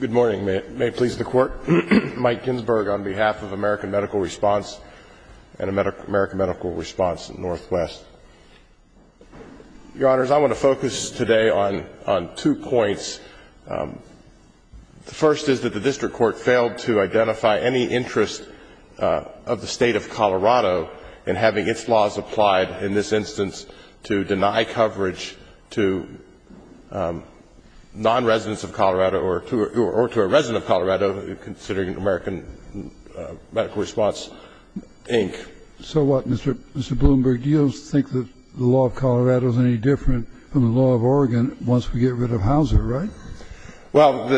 Good morning. May it please the Court. Mike Ginsberg on behalf of American Medical Response and American Medical Response Northwest. Your Honors, I want to focus today on two points. The first is that the District Court failed to identify any interest of the State of Colorado in having its laws applied in this instance to deny coverage to non-residents of Colorado or to a resident of Colorado considering American Medical Response, Inc. So what, Mr. Bloomberg, do you think that the law of Colorado is any different from the law of Oregon once we get rid of Hauser, right? Well,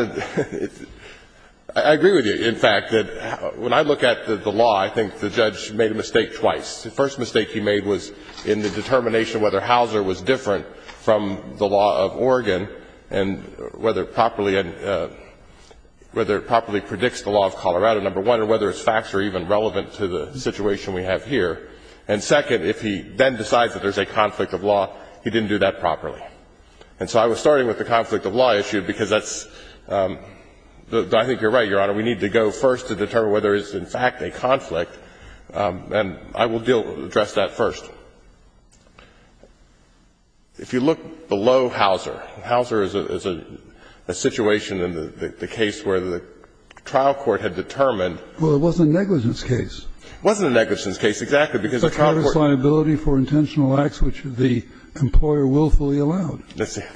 I agree with you, in fact, that when I look at the law, I think the judge made a mistake twice. The first mistake he made was in the determination whether Hauser was different from the law of Oregon and whether it properly — whether it properly predicts the law of Colorado, number one, or whether its facts are even relevant to the situation we have here. And second, if he then decides that there's a conflict of law, he didn't do that properly. And so I was starting with the conflict of law issue because that's — I think you're right, Your Honor, we need to go first to determine whether it's, in fact, a conflict. And I will deal — address that first. If you look below Hauser, Hauser is a — a situation in the case where the trial court had determined — Well, it wasn't a negligence case. It wasn't a negligence case, exactly, because the trial court — It's a counter-cliability for intentional acts which the employer willfully allowed. That's it.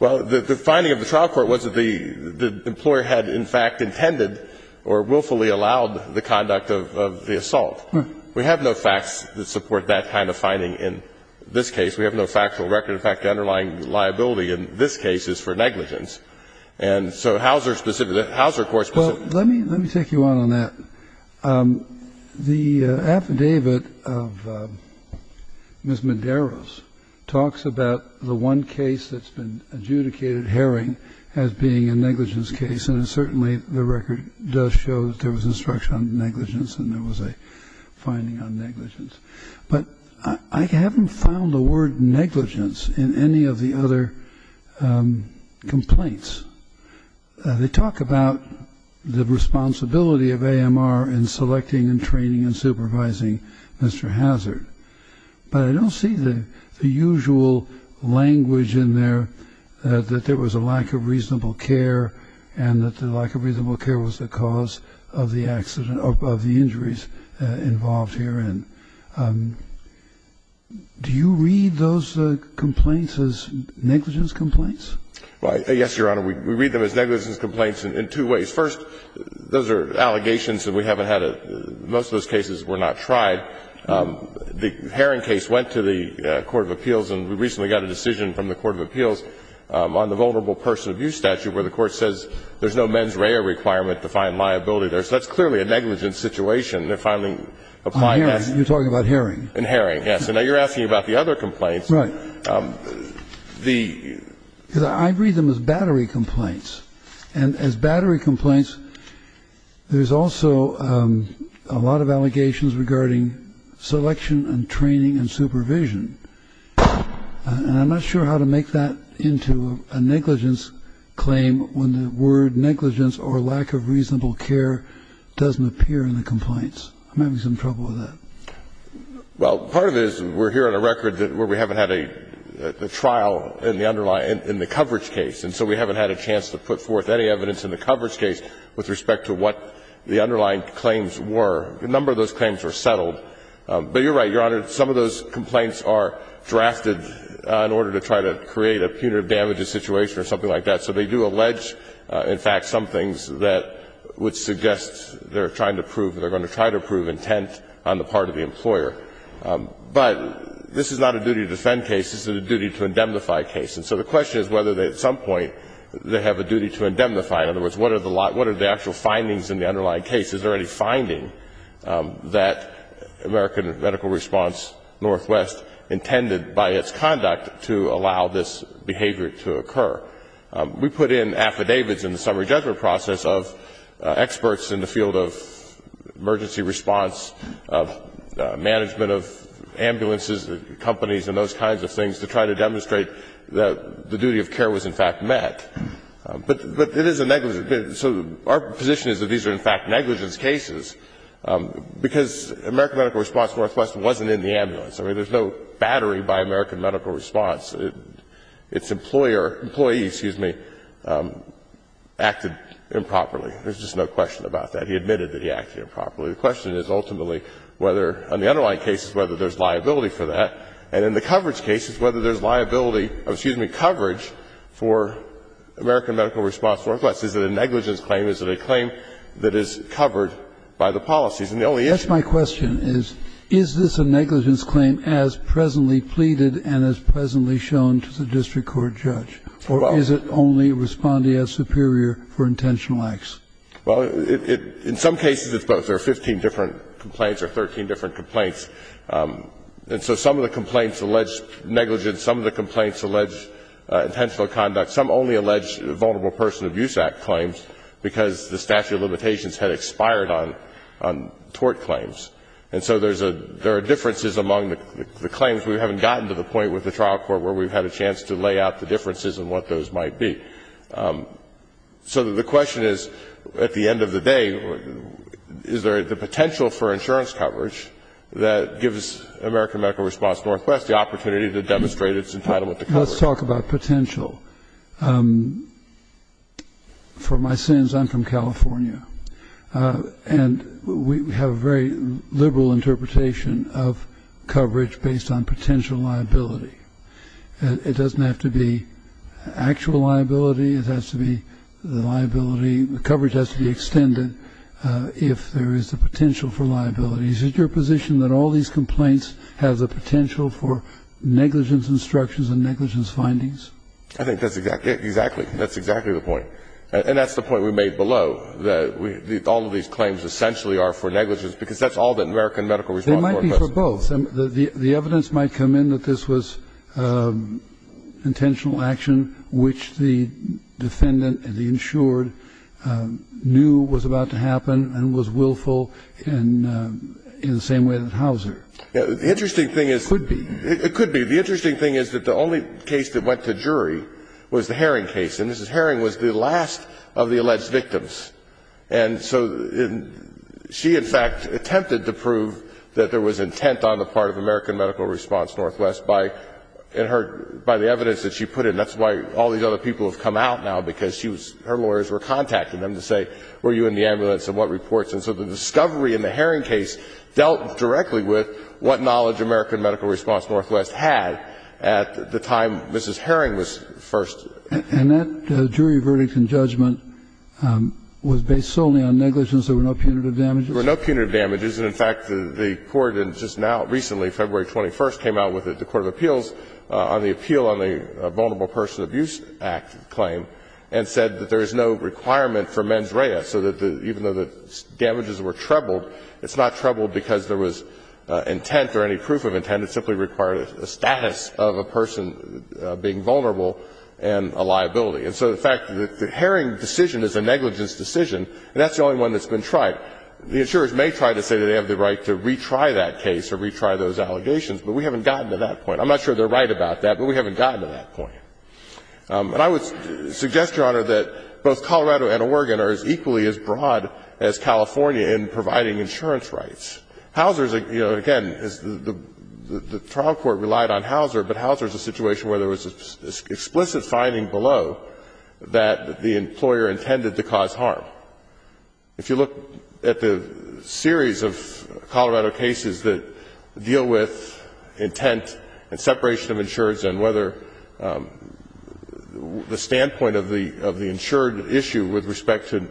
Well, the — the finding of the trial court was that the — the employer had, in fact, intended or willfully allowed the conduct of — of the assault. We have no facts that support that kind of finding in this case. We have no factual record. In fact, the underlying liability in this case is for negligence. And so Hauser specifically — Hauser, of course, specifically — Well, let me — let me take you on on that. The affidavit of Ms. Medeiros talks about the one case that's been adjudicated herring as being a negligence case, and it certainly — the record does show that there was instruction on negligence and there was a finding on negligence. But I haven't found the word negligence in any of the other complaints. They talk about the responsibility of AMR in selecting and training and supervising Mr. Hauser, but I don't see the — the usual language in there that there was a lack of reasonable care and that the lack of reasonable care was the cause of the accident — of the injuries involved herein. Do you read those complaints as negligence complaints? Right. Yes, Your Honor. We read them as negligence complaints in two ways. First, those are allegations that we haven't had a — most of those cases were not tried. The herring case went to the court of appeals, and we recently got a decision from the court of appeals on the vulnerable person abuse statute where the court says there's no mens rea requirement to find liability there. So that's clearly a negligence situation. They're finally applying that — On herring. You're talking about herring. In herring, yes. And now you're asking about the other complaints. Right. The — Because I read them as battery complaints. And as battery complaints, there's also a lot of allegations regarding selection and training and supervision. And I'm not sure how to make that into a negligence claim when the word negligence or lack of reasonable care doesn't appear in the complaints. I'm having some trouble with that. Well, part of it is we're here on a record where we haven't had a trial in the underlying — in the coverage case. And so we haven't had a chance to put forth any evidence in the coverage case with respect to what the underlying claims were. A number of those claims were settled. But you're right, Your Honor. Some of those complaints are drafted in order to try to create a punitive damages situation or something like that. So they do allege, in fact, some things that would suggest they're trying to prove intent on the part of the employer. But this is not a duty to defend case. This is a duty to indemnify case. And so the question is whether at some point they have a duty to indemnify. In other words, what are the actual findings in the underlying case? Is there any finding that American Medical Response Northwest intended by its conduct to allow this behavior to occur? We put in affidavits in the summary judgment process of experts in the field of emergency response, of management of ambulances, companies, and those kinds of things to try to demonstrate that the duty of care was, in fact, met. But it is a negligence. So our position is that these are, in fact, negligence cases because American Medical Response Northwest wasn't in the ambulance. I mean, there's no battery by American Medical Response. Its employer, employees, excuse me, acted improperly. There's just no question about that. He admitted that he acted improperly. The question is ultimately whether, on the underlying cases, whether there's liability for that. And in the coverage cases, whether there's liability, excuse me, coverage for American Medical Response Northwest. Is it a negligence claim? Is it a claim that is covered by the policies? And the only issue is. Is this a negligence claim as presently pleaded and as presently shown to the district court judge? Or is it only responding as superior for intentional acts? Well, in some cases it's both. There are 15 different complaints or 13 different complaints. And so some of the complaints allege negligence. Some of the complaints allege intentional conduct. Some only allege Vulnerable Person Abuse Act claims because the statute of limitations had expired on tort claims. And so there are differences among the claims. We haven't gotten to the point with the trial court where we've had a chance to lay out the differences in what those might be. So the question is, at the end of the day, is there the potential for insurance coverage that gives American Medical Response Northwest the opportunity to demonstrate its entitlement to coverage? Let's talk about potential. For my sins, I'm from California. And we have a very liberal interpretation of coverage based on potential liability. It doesn't have to be actual liability. It has to be the liability. The coverage has to be extended if there is the potential for liability. Is it your position that all these complaints have the potential for negligence instructions and negligence findings? I think that's exactly it. Exactly. That's exactly the point. And that's the point we made below, that all of these claims essentially are for negligence because that's all that American Medical Response Northwest does. They might be for both. The evidence might come in that this was intentional action which the defendant and the insured knew was about to happen and was willful in the same way that Hauser. The interesting thing is the only case that went to jury was the Herring case. And Mrs. Herring was the last of the alleged victims. And so she, in fact, attempted to prove that there was intent on the part of American Medical Response Northwest by the evidence that she put in. That's why all these other people have come out now because her lawyers were contacting them to say were you in the ambulance and what reports. And so the discovery in the Herring case dealt directly with what knowledge American Medical Response Northwest had at the time Mrs. Herring was first. And that jury verdict and judgment was based solely on negligence. There were no punitive damages? There were no punitive damages. And, in fact, the Court just now, recently, February 21st, came out with the court of appeals on the appeal on the Vulnerable Persons Abuse Act claim and said that there is no requirement for mens rea. So even though the damages were trebled, it's not trebled because there was intent or any proof of intent. And it simply required a status of a person being vulnerable and a liability. And so, in fact, the Herring decision is a negligence decision, and that's the only one that's been tried. The insurers may try to say that they have the right to retry that case or retry those allegations, but we haven't gotten to that point. I'm not sure they're right about that, but we haven't gotten to that point. And I would suggest, Your Honor, that both Colorado and Oregon are equally as broad as California in providing insurance rights. Houser's, you know, again, the trial court relied on Houser, but Houser's a situation where there was an explicit finding below that the employer intended to cause harm. If you look at the series of Colorado cases that deal with intent and separation of insurance and whether the standpoint of the insured issue with respect to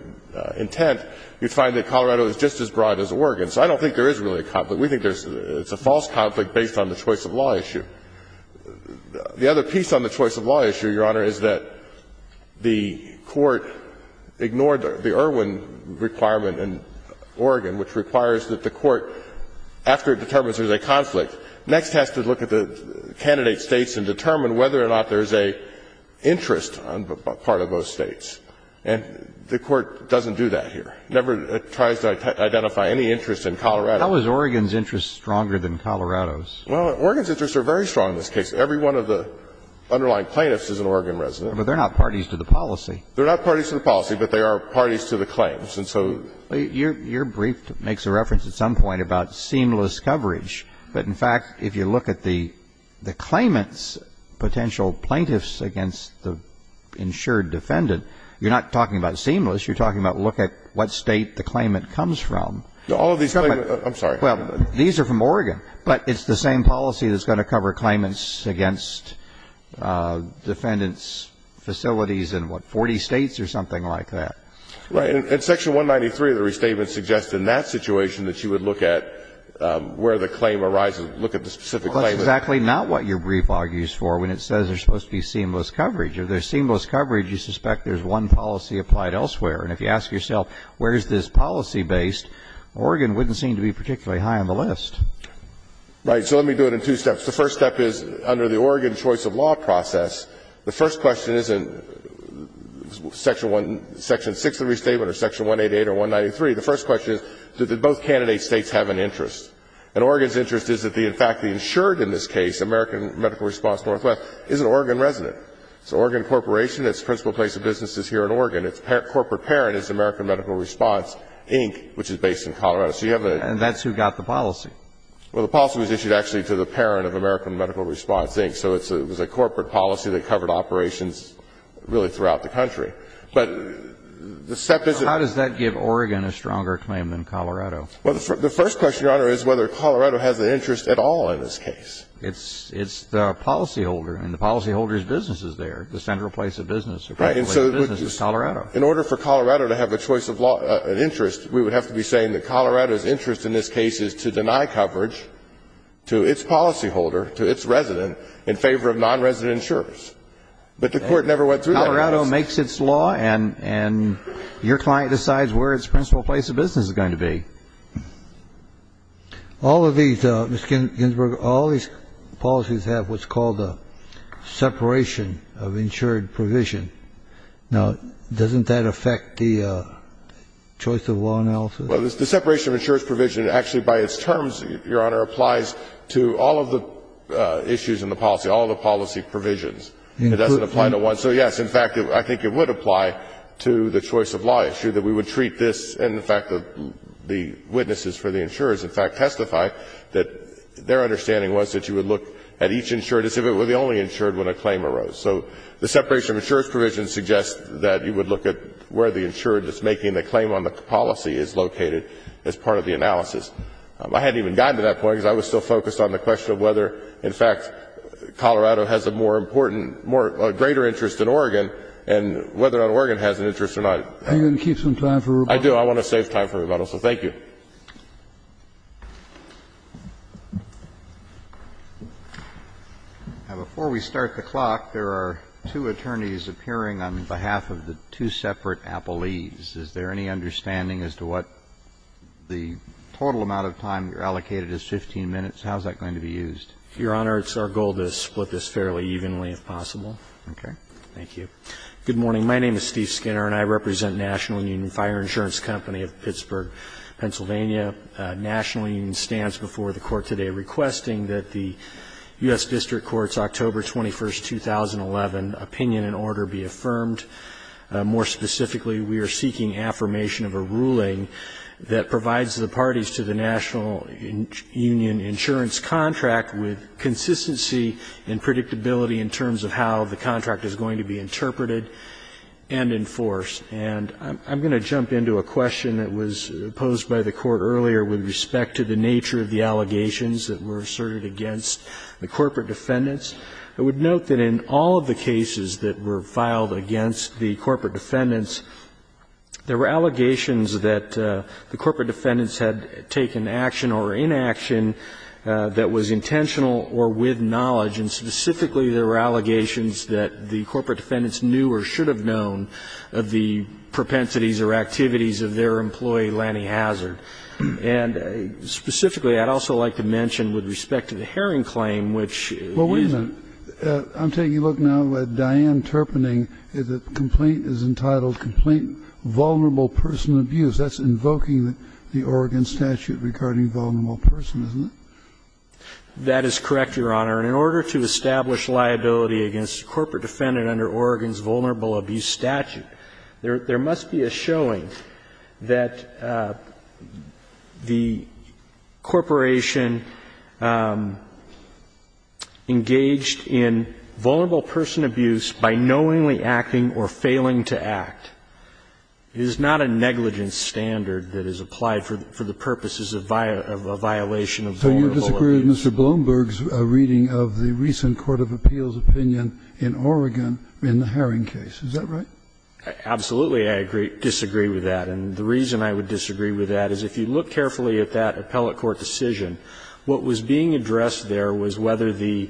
intent, you'd find that Colorado is just as broad as Oregon. So I don't think there is really a conflict. We think it's a false conflict based on the choice of law issue. The other piece on the choice of law issue, Your Honor, is that the court ignored the Irwin requirement in Oregon, which requires that the court, after it determines there's a conflict, next has to look at the candidate states and determine whether or not there's an interest on the part of those states. And the court doesn't do that here. It never tries to identify any interest in Colorado. How is Oregon's interest stronger than Colorado's? Well, Oregon's interests are very strong in this case. Every one of the underlying plaintiffs is an Oregon resident. But they're not parties to the policy. They're not parties to the policy, but they are parties to the claims. And so you're brief makes a reference at some point about seamless coverage. But, in fact, if you look at the claimant's potential plaintiffs against the insured defendant, you're not talking about seamless. You're talking about look at what State the claimant comes from. All of these claimants are from Oregon. But it's the same policy that's going to cover claimants against defendants' facilities in, what, 40 States or something like that. Right. And section 193 of the restatement suggests in that situation that you would look at where the claim arises, look at the specific claimant. Well, that's exactly not what your brief argues for when it says there's supposed to be seamless coverage. If there's seamless coverage, you suspect there's one policy applied elsewhere. And if you ask yourself where is this policy based, Oregon wouldn't seem to be particularly high on the list. Right. So let me do it in two steps. The first step is, under the Oregon choice of law process, the first question isn't section 6 of the restatement or section 188 or 193. The first question is, did both candidate States have an interest? And Oregon's interest is that, in fact, the insured in this case, American Medical Response Northwest, is an Oregon resident. It's an Oregon corporation. Its principal place of business is here in Oregon. Its corporate parent is American Medical Response, Inc., which is based in Colorado. So you have a ---- And that's who got the policy. Well, the policy was issued actually to the parent of American Medical Response, Inc. So it was a corporate policy that covered operations really throughout the country. But the step is ---- How does that give Oregon a stronger claim than Colorado? Well, the first question, Your Honor, is whether Colorado has an interest at all in this case. It's the policyholder, and the policyholder's business is there, the central place of business, the principal place of business is Colorado. In order for Colorado to have a choice of law, an interest, we would have to be saying that Colorado's interest in this case is to deny coverage to its policyholder, to its resident, in favor of nonresident insurers. But the Court never went through that process. Colorado makes its law, and your client decides where its principal place of business is going to be. All of these, Mr. Ginsburg, all these policies have what's called a separation of insured provision. Now, doesn't that affect the choice of law analysis? Well, the separation of insured provision actually by its terms, Your Honor, applies to all of the issues in the policy, all of the policy provisions. It doesn't apply to one. So, yes, in fact, I think it would apply to the choice of law issue, that we would have the witnesses for the insurers, in fact, testify that their understanding was that you would look at each insured as if it were the only insured when a claim arose. So the separation of insured provision suggests that you would look at where the insured that's making the claim on the policy is located as part of the analysis. I hadn't even gotten to that point because I was still focused on the question of whether, in fact, Colorado has a more important, greater interest in Oregon and whether or not Oregon has an interest or not. Are you going to keep some time for rebuttal? I do. I want to save time for rebuttal. So thank you. Now, before we start the clock, there are two attorneys appearing on behalf of the two separate appellees. Is there any understanding as to what the total amount of time you're allocated is, 15 minutes? How is that going to be used? Your Honor, it's our goal to split this fairly evenly, if possible. Okay. Thank you. Good morning. My name is Steve Skinner and I represent National Union Fire Insurance Company of Pittsburgh, Pennsylvania. National Union stands before the Court today requesting that the U.S. District Court's October 21, 2011, opinion and order be affirmed. More specifically, we are seeking affirmation of a ruling that provides the parties to the National Union insurance contract with consistency and predictability in terms of how the contract is going to be interpreted and enforced. And I'm going to jump into a question that was posed by the Court earlier with respect to the nature of the allegations that were asserted against the corporate defendants. I would note that in all of the cases that were filed against the corporate defendants, there were allegations that the corporate defendants had taken action or were inaction that was intentional or with knowledge. And specifically, there were allegations that the corporate defendants knew or should have known of the propensities or activities of their employee, Lanny Hazard. And specifically, I'd also like to mention with respect to the Herring claim, which is a ---- Well, wait a minute. I'm taking a look now at Diane Turpening. The complaint is entitled Complaint Vulnerable Person Abuse. That's invoking the Oregon statute regarding vulnerable person, isn't it? That is correct, Your Honor. And in order to establish liability against a corporate defendant under Oregon's vulnerable abuse statute, there must be a showing that the corporation engaged in vulnerable person abuse by knowingly acting or failing to act is not a negligent standard that is applied for the purposes of a violation of vulnerable abuse. So you disagree with Mr. Blumberg's reading of the recent court of appeals opinion in Oregon in the Herring case. Is that right? Absolutely, I disagree with that. And the reason I would disagree with that is if you look carefully at that appellate court decision, what was being addressed there was whether the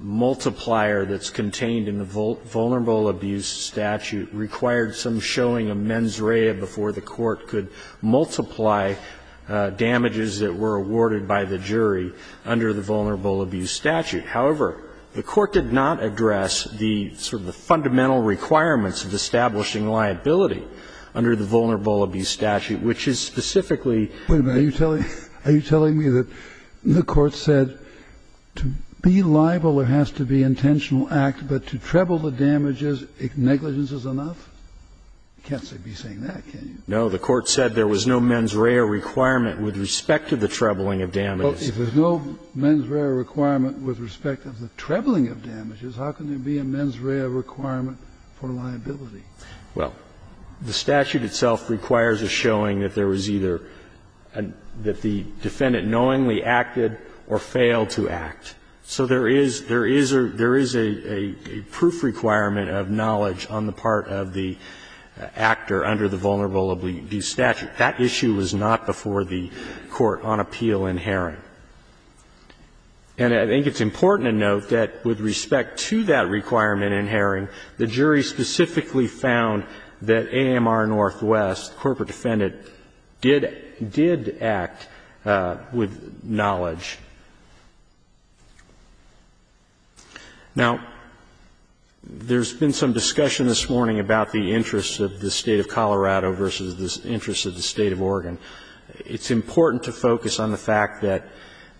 multiplier that's contained in the vulnerable abuse statute required some showing of mens rea before the court could multiply damages that were awarded by the jury under the vulnerable abuse statute. However, the court did not address the sort of the fundamental requirements of establishing liability under the vulnerable abuse statute, which is specifically Wait a minute. Are you telling me that the court said to be liable there has to be intentional act, but to treble the damages negligence is enough? You can't be saying that, can you? No. The court said there was no mens rea requirement with respect to the trebling of damages. Well, if there's no mens rea requirement with respect to the trebling of damages, how can there be a mens rea requirement for liability? Well, the statute itself requires a showing that there was either that the defendant knowingly acted or failed to act. So there is a proof requirement of knowledge on the part of the actor under the vulnerable abuse statute. That issue was not before the court on appeal in Herring. And I think it's important to note that with respect to that requirement in Herring, the jury specifically found that AMR Northwest, corporate defendant, did act with Now, there's been some discussion this morning about the interests of the State of Colorado versus the interests of the State of Oregon. It's important to focus on the fact that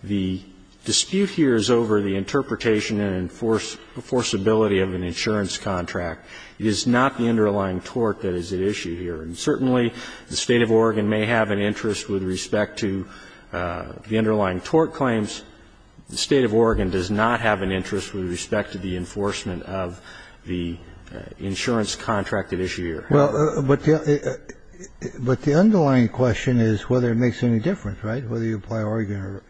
the dispute here is over the interpretation and enforceability of an insurance contract. It is not the underlying tort that is at issue here. And certainly the State of Oregon may have an interest with respect to the underlying tort claims. The State of Oregon does not have an interest with respect to the enforcement of the insurance contract at issue here. Well, but the underlying question is whether it makes any difference, right, whether you apply Oregon or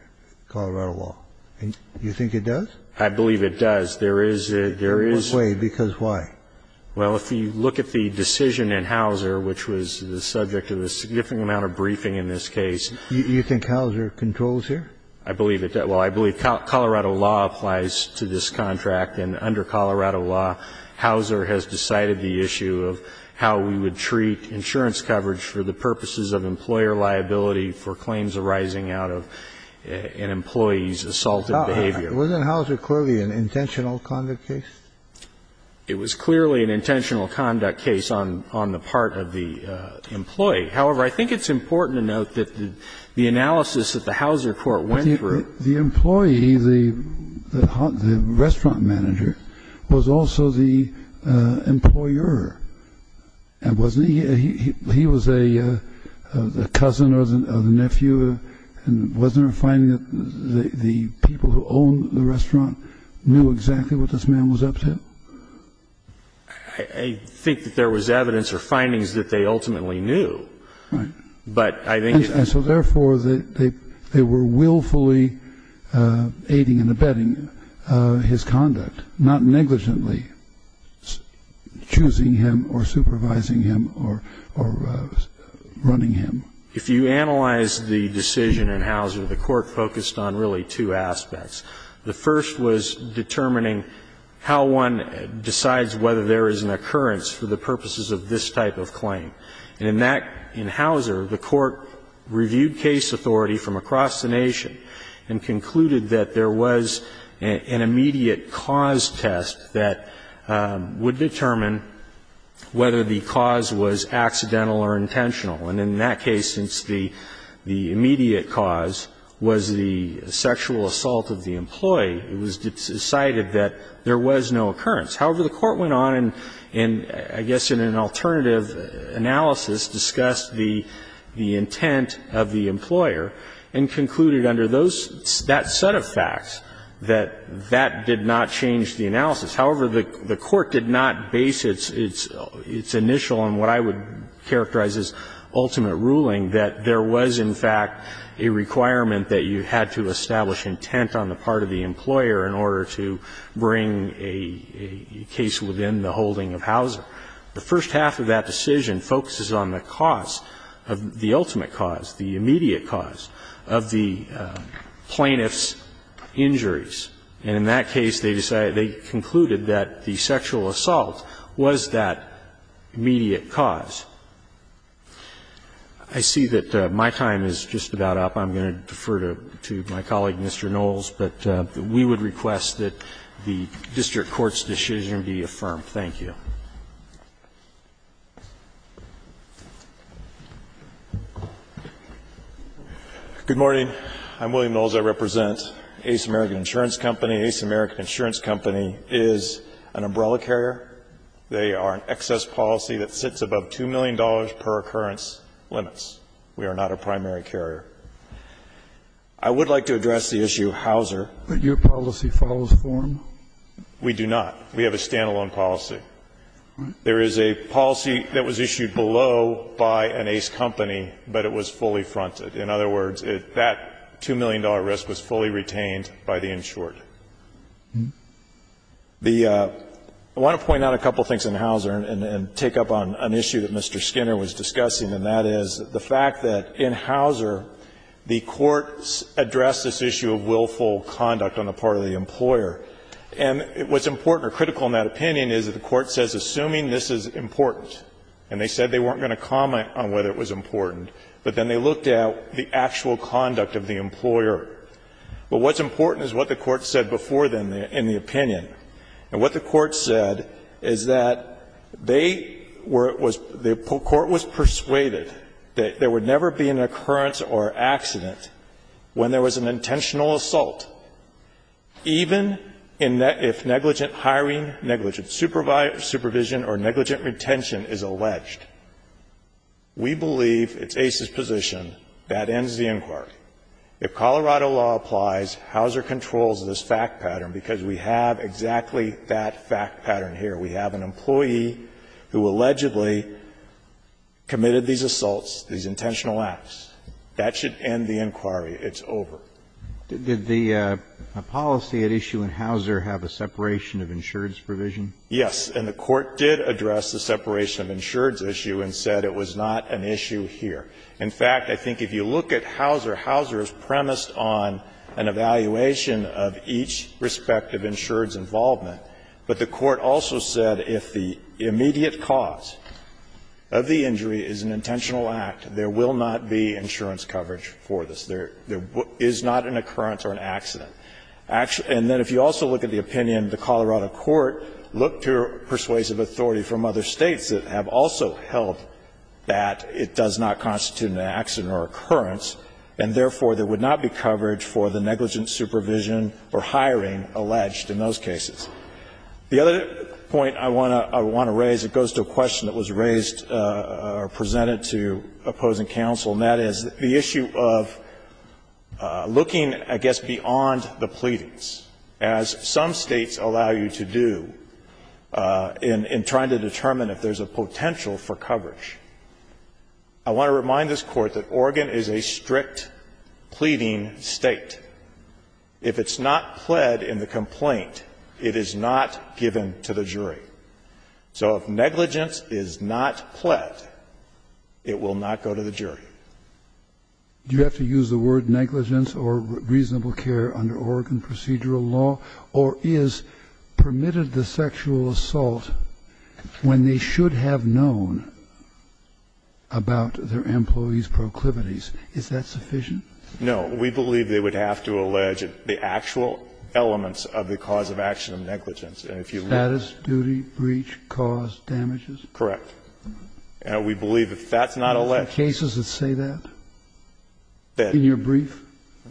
Colorado law. Do you think it does? I believe it does. There is a – there is a – In what way? Because why? Well, if you look at the decision in Hauser, which was the subject of a significant amount of briefing in this case – You think Hauser controls here? I believe it does. Well, I believe Colorado law applies to this contract. And under Colorado law, Hauser has decided the issue of how we would treat insurance coverage for the purposes of employer liability for claims arising out of an employee's assaultive behavior. Wasn't Hauser clearly an intentional conduct case? It was clearly an intentional conduct case on the part of the employee. However, I think it's important to note that the analysis that the Hauser court went through – The employee, the restaurant manager, was also the employer, wasn't he? He was a cousin or the nephew. Wasn't there a finding that the people who owned the restaurant knew exactly what this man was up to? I think that there was evidence or findings that they ultimately knew. Right. But I think – And so therefore, they were willfully aiding and abetting his conduct, not negligently choosing him or supervising him or running him. If you analyze the decision in Hauser, the court focused on really two aspects. The first was determining how one decides whether there is an occurrence for the purposes of this type of claim. And in that, in Hauser, the court reviewed case authority from across the nation and concluded that there was an immediate cause test that would determine whether the cause was accidental or intentional. And in that case, since the immediate cause was the sexual assault of the employee, it was decided that there was no occurrence. However, the court went on and I guess in an alternative analysis discussed the intent of the employer and concluded under that set of facts that that did not change the analysis. However, the court did not base its initial on what I would characterize as ultimate ruling, that there was, in fact, a requirement that you had to establish intent on the part of the employer in order to bring a case within the holding of Hauser. The first half of that decision focuses on the cause, the ultimate cause, the immediate cause of the plaintiff's injuries. And in that case, they decided, they concluded that the sexual assault was that immediate cause. I see that my time is just about up. I'm going to defer to my colleague, Mr. Knowles. But we would request that the district court's decision be affirmed. Thank you. Knowles. I'm William Knowles. I represent Ace American Insurance Company. Ace American Insurance Company is an umbrella carrier. They are an excess policy that sits above $2 million per occurrence limits. We are not a primary carrier. I would like to address the issue of Hauser. But your policy follows form? We do not. We have a standalone policy. There is a policy that was issued below by an Ace Company, but it was fully fronted. In other words, that $2 million risk was fully retained by the insured. I want to point out a couple of things in Hauser and take up on an issue that Mr. Skinner was discussing, and that is the fact that in Hauser, the courts addressed this issue of willful conduct on the part of the employer. And what's important or critical in that opinion is that the court says, assuming this is important, and they said they weren't going to comment on whether it was important, but then they looked at the actual conduct of the employer. But what's important is what the court said before then in the opinion. And what the court said is that they were the court was persuaded that there would never be an occurrence or accident when there was an intentional assault, even if negligent hiring, negligent supervision or negligent retention is alleged. We believe it's Ace's position that ends the inquiry. If Colorado law applies, Hauser controls this fact pattern because we have exactly that fact pattern here. We have an employee who allegedly committed these assaults, these intentional acts. That should end the inquiry. It's over. Did the policy at issue in Hauser have a separation of insureds provision? Yes. And the court did address the separation of insureds issue and said it was not an issue here. In fact, I think if you look at Hauser, Hauser is premised on an evaluation of each respective insured's involvement. But the court also said if the immediate cause of the injury is an intentional act, there will not be insurance coverage for this. There is not an occurrence or an accident. And then if you also look at the opinion, the Colorado court looked to persuasive authority from other States that have also held that it does not constitute an accident or occurrence, and therefore there would not be coverage for the negligent supervision or hiring alleged in those cases. The other point I want to raise, it goes to a question that was raised or presented to opposing counsel, and that is the issue of looking, I guess, beyond the pleadings, as some States allow you to do in trying to determine if there's a potential for coverage. I want to remind this Court that Oregon is a strict pleading State. If it's not pled in the complaint, it is not given to the jury. So if negligence is not pled, it will not go to the jury. Do you have to use the word negligence or reasonable care under Oregon procedural law, or is permitted the sexual assault when they should have known about their employees' proclivities? Is that sufficient? No. We believe they would have to allege the actual elements of the cause of action of negligence. Status, duty, breach, cause, damages? Correct. And we believe if that's not alleged. Are there cases that say that in your brief?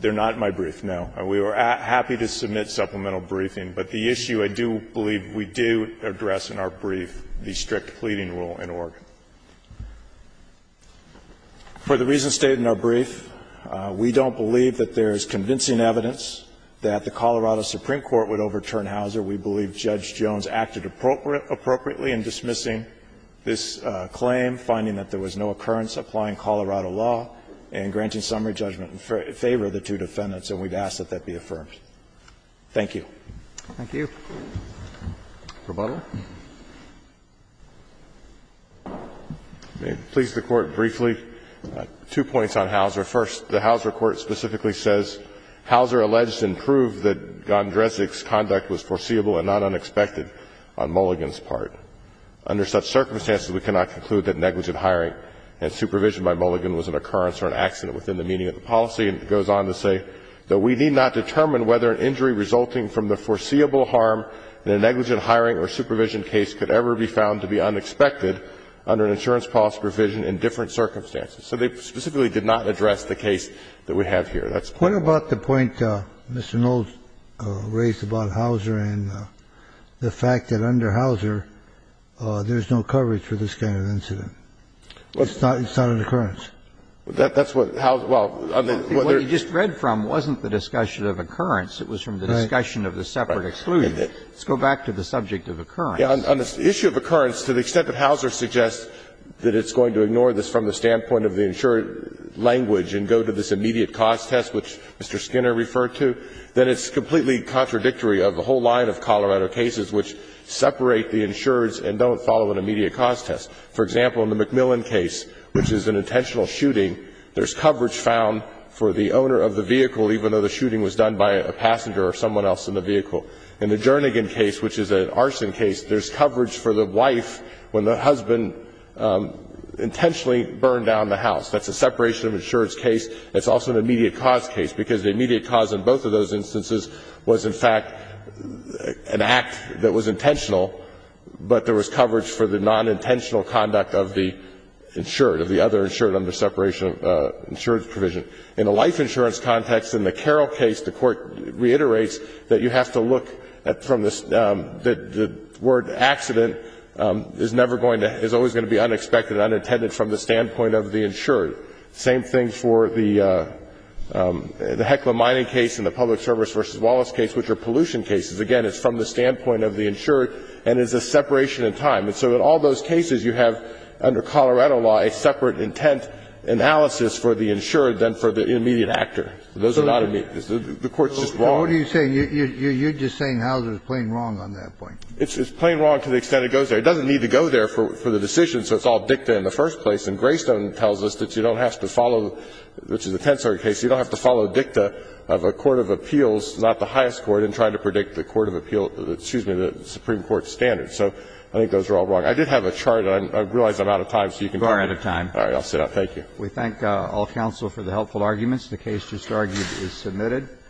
They're not in my brief, no. We are happy to submit supplemental briefing, but the issue I do believe we do address in our brief, the strict pleading rule in Oregon. For the reasons stated in our brief, we don't believe that there's convincing evidence that the Colorado Supreme Court would overturn Hauser. We believe Judge Jones acted appropriately in dismissing this claim, finding that there was no occurrence applying Colorado law and granting summary judgment in favor of the two defendants, and we'd ask that that be affirmed. Thank you. Thank you. Rebuttal. May it please the Court briefly. Two points on Hauser. First, the Hauser court specifically says, Hauser alleged and proved that Gondresnik's conduct was foreseeable and not unexpected on Mulligan's part. Under such circumstances, we cannot conclude that negligent hiring and supervision by Mulligan was an occurrence or an accident within the meaning of the policy. And it goes on to say that we need not determine whether an injury resulting from the foreseeable harm in a negligent hiring or supervision case could ever be found to be unexpected under an insurance policy provision in different circumstances. So they specifically did not address the case that we have here. That's the point. What about the point Mr. Knowles raised about Hauser and the fact that under Hauser, there's no coverage for this kind of incident? It's not an occurrence. That's what Hauser – well, on the other – What you just read from wasn't the discussion of occurrence. It was from the discussion of the separate exclusion. Let's go back to the subject of occurrence. On the issue of occurrence, to the extent that Hauser suggests that it's going to ignore this from the standpoint of the insured language and go to this immediate cause test, which Mr. Skinner referred to, then it's completely contradictory of a whole line of Colorado cases which separate the insureds and don't follow an immediate cause test. For example, in the McMillan case, which is an intentional shooting, there's coverage found for the owner of the vehicle, even though the shooting was done by a passenger or someone else in the vehicle. In the Jernigan case, which is an arson case, there's coverage for the wife when the husband intentionally burned down the house. That's a separation of insureds case. It's also an immediate cause case, because the immediate cause in both of those instances was, in fact, an act that was intentional, but there was coverage for the nonintentional conduct of the insured, of the other insured under separation of insured provision. In the life insurance context, in the Carroll case, the Court reiterates that you have to look from the – the word accident is never going to – is always going to be unexpected and unintended from the standpoint of the insured. Same thing for the Heckler Mining case and the Public Service v. Wallace case, which are pollution cases. Again, it's from the standpoint of the insured and is a separation in time. And so in all those cases, you have, under Colorado law, a separate intent analysis for the insured than for the immediate actor. Those are not immediate. The Court's just wrong. Kennedy. You're just saying Houser is plain wrong on that point. It's plain wrong to the extent it goes there. It doesn't need to go there for the decision, so it's all dicta in the first place. And Greystone tells us that you don't have to follow, which is the Tensor case, you don't have to follow dicta of a court of appeals, not the highest court, in trying to predict the court of appeal – excuse me, the Supreme Court standards. So I think those are all wrong. I did have a chart. I realize I'm out of time, so you can continue. You are out of time. All right. I'll sit up. Thank you.